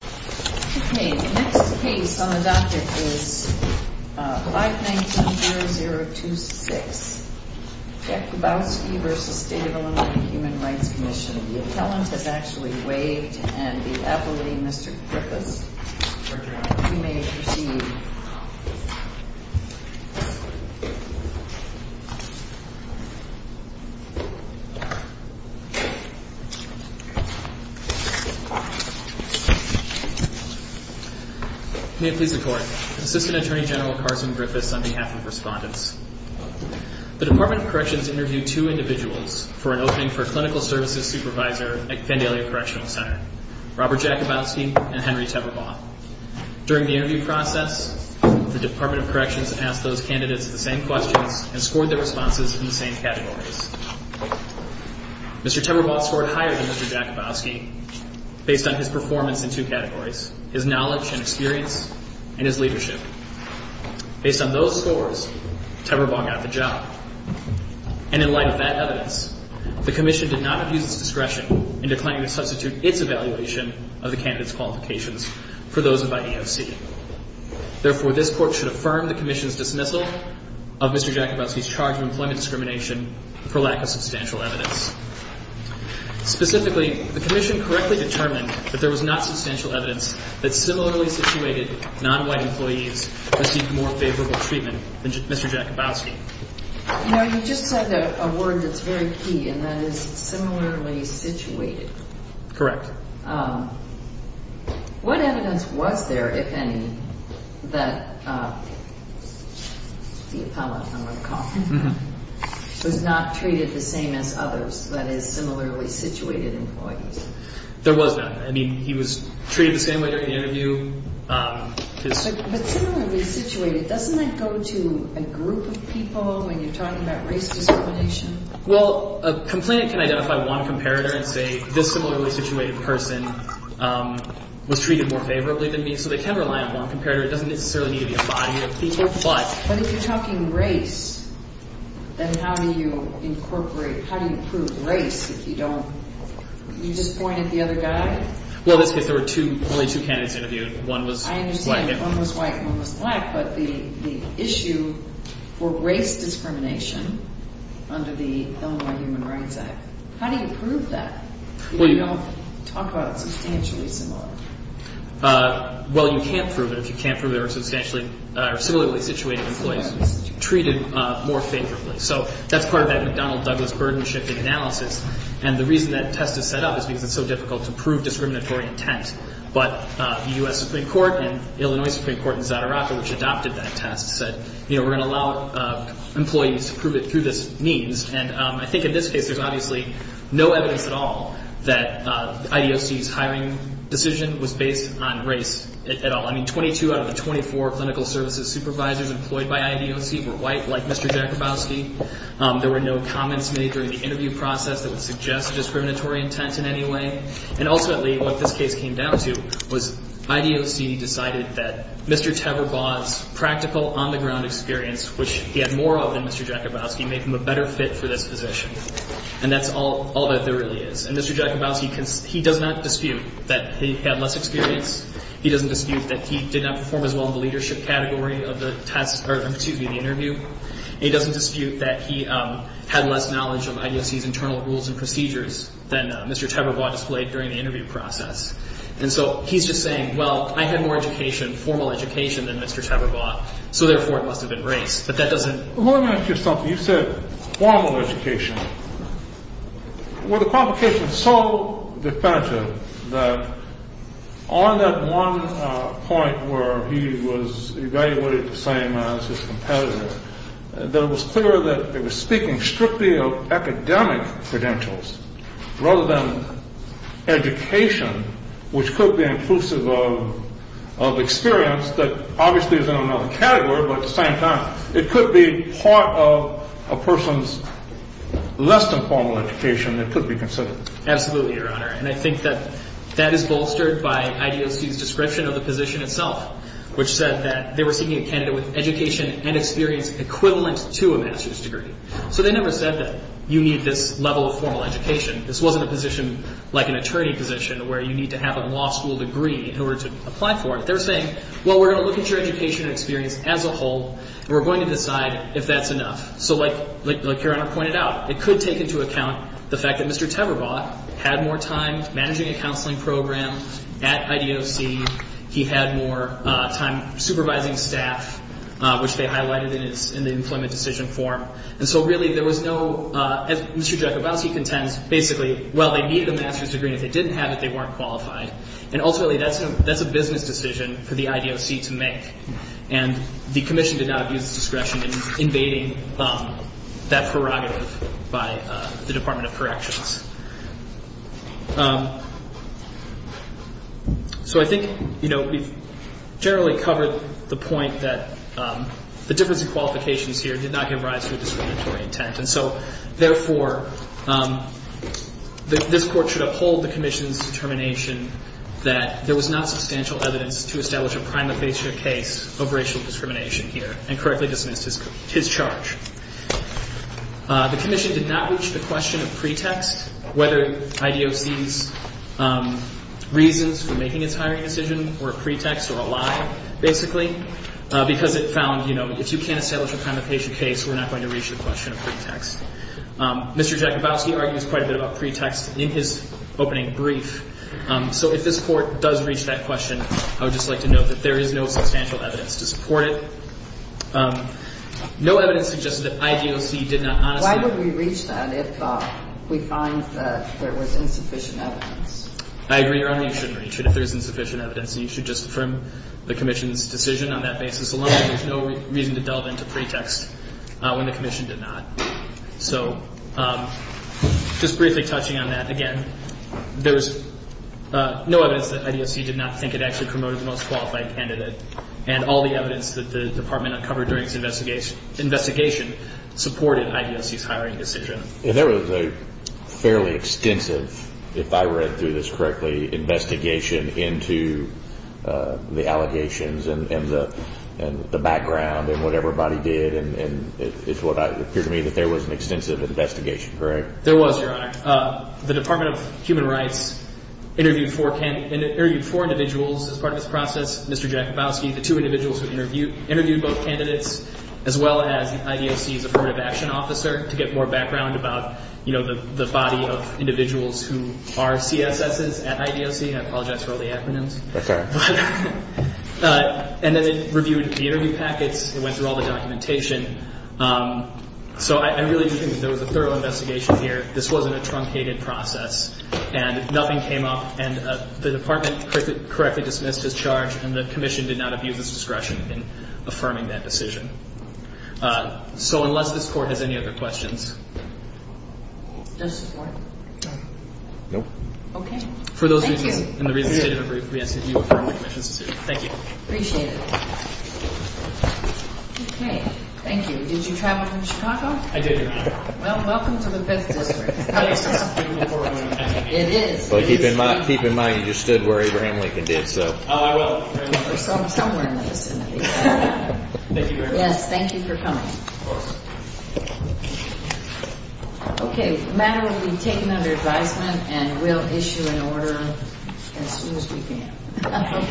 The next case on the docket is 519-0026. Jackubowski v. State of Ill. Human Rights Commission. The appellant has actually waived and the appellee, Mr. Griffiths, you may proceed. May it please the Court, Assistant Attorney General Carson Griffiths on behalf of the respondents. The Department of Corrections interviewed two individuals for an opening for Clinical Services Supervisor at the Fandalia Correctional Center, Robert Jackubowski and Henry Teberboth. During the interview process, the Department of Corrections asked those candidates the same questions and scored their responses in the same categories. Mr. Teberboth scored higher than Mr. Jackubowski based on his performance in two categories, his knowledge and experience, and his leadership. Based on those scores, Teberboth got the job. And in light of that evidence, the Commission did not abuse its discretion in declining to substitute its evaluation of the candidates' qualifications for those by EOC. Therefore, this Court should affirm the Commission's dismissal of Mr. Jackubowski's charge of employment discrimination for lack of substantial evidence. Specifically, the Commission correctly determined that there was not substantial evidence that similarly situated non-white employees received more favorable treatment than Mr. Jackubowski. You know, you just said a word that's very key, and that is similarly situated. Correct. However, what evidence was there, if any, that the appellate, I'm going to call him, was not treated the same as others, that is, similarly situated employees? There was none. I mean, he was treated the same way during the interview. But similarly situated, doesn't that go to a group of people when you're talking about race discrimination? Well, a complainant can identify one comparator and say, this similarly situated person was treated more favorably than me. So they can rely on one comparator. It doesn't necessarily need to be a body of people. But if you're talking race, then how do you incorporate – how do you prove race if you don't – you just point at the other guy? Well, in this case, there were two – only two candidates interviewed. One was – I understand. One was white and one was black. But the issue for race discrimination under the Illinois Human Rights Act, how do you prove that if you don't talk about it substantially similarly? Well, you can't prove it if you can't prove there were substantially – or similarly situated employees treated more favorably. So that's part of that McDonnell-Douglas burden-shifting analysis. And the reason that test is set up is because it's so difficult to prove discriminatory intent. But the U.S. Supreme Court and Illinois Supreme Court in Zadaraka, which adopted that test, said, you know, we're going to allow employees to prove it through this means. And I think in this case, there's obviously no evidence at all that IDOC's hiring decision was based on race at all. I mean, 22 out of the 24 clinical services supervisors employed by IDOC were white, like Mr. Jakubowski. There were no comments made during the interview process that would suggest discriminatory intent in any way. And ultimately, what this case came down to was IDOC decided that Mr. Teberbaugh's practical on-the-ground experience, which he had more of than Mr. Jakubowski, make him a better fit for this position. And that's all that there really is. And Mr. Jakubowski, he does not dispute that he had less experience. He doesn't dispute that he did not perform as well in the leadership category of the test – or excuse me, the interview. He doesn't dispute that he had less knowledge of IDOC's internal rules and procedures than Mr. Teberbaugh displayed during the interview process. And so he's just saying, well, I had more education, formal education, than Mr. Teberbaugh, so therefore it must have been race. But that doesn't – You said formal education. Well, the qualification is so definitive that on that one point where he was evaluated the same as his competitor, that it was clear that it was speaking strictly of academic credentials rather than education, which could be inclusive of experience that obviously is in another category, but at the same time it could be part of a person's less than formal education that could be considered. Absolutely, Your Honor. And I think that that is bolstered by IDOC's description of the position itself, which said that they were seeking a candidate with education and experience equivalent to a master's degree. So they never said that you need this level of formal education. This wasn't a position like an attorney position where you need to have a law school degree in order to apply for it. They were saying, well, we're going to look at your education and experience as a whole, and we're going to decide if that's enough. So like Your Honor pointed out, it could take into account the fact that Mr. Teberbaugh had more time managing a counseling program at IDOC. He had more time supervising staff, which they highlighted in the employment decision form. And so really there was no – as Mr. Jacobowski contends, basically, well, they needed a master's degree. And if they didn't have it, they weren't qualified. And ultimately, that's a business decision for the IDOC to make. And the commission did not abuse its discretion in invading that prerogative by the Department of Corrections. So I think, you know, we've generally covered the point that the difference in qualifications here did not give rise to a discriminatory intent. And so, therefore, this Court should uphold the commission's determination that there was not substantial evidence to establish a prima facie case of racial discrimination here and correctly dismiss his charge. The commission did not reach the question of pretext, whether IDOC's reasons for making its hiring decision were a pretext or a lie, basically, because it found, you know, if you can't establish a prima facie case, we're not going to reach the question of pretext. Mr. Jacobowski argues quite a bit about pretext in his opening brief. So if this Court does reach that question, I would just like to note that there is no substantial evidence to support it. No evidence suggested that IDOC did not honestly – Why would we reach that if we find that there was insufficient evidence? I agree, Your Honor, you shouldn't reach it if there's insufficient evidence, and you should just affirm the commission's decision on that basis alone. There's no reason to delve into pretext when the commission did not. So just briefly touching on that again, there was no evidence that IDOC did not think it actually promoted the most qualified candidate, and all the evidence that the Department uncovered during its investigation supported IDOC's hiring decision. And there was a fairly extensive, if I read through this correctly, investigation into the allegations and the background and what everybody did, and it appeared to me that there was an extensive investigation, correct? There was, Your Honor. The Department of Human Rights interviewed four individuals as part of this process, Mr. Jacobowski, the two individuals who interviewed both candidates, as well as IDOC's affirmative action officer, to get more background about, you know, the body of individuals who are CSSs at IDOC. I apologize for all the acronyms. That's all right. And then it reviewed the interview packets. It went through all the documentation. So I really do think that there was a thorough investigation here. This wasn't a truncated process, and nothing came up. And the Department correctly dismissed his charge, and the commission did not abuse its discretion in affirming that decision. So unless this Court has any other questions. Does this court? No. Okay. For those reasons and the reasons stated in the brief, we ask that you affirm the commission's decision. Thank you. Appreciate it. Okay. Thank you. Did you travel from Chicago? I did, Your Honor. Well, welcome to the Fifth District. It is. Well, keep in mind you just stood where Abraham Lincoln did, so. Oh, I will. Somewhere in the vicinity. Thank you very much. Yes. Thank you for coming. Of course. Okay. The matter will be taken under advisement, and we'll issue an order as soon as we can.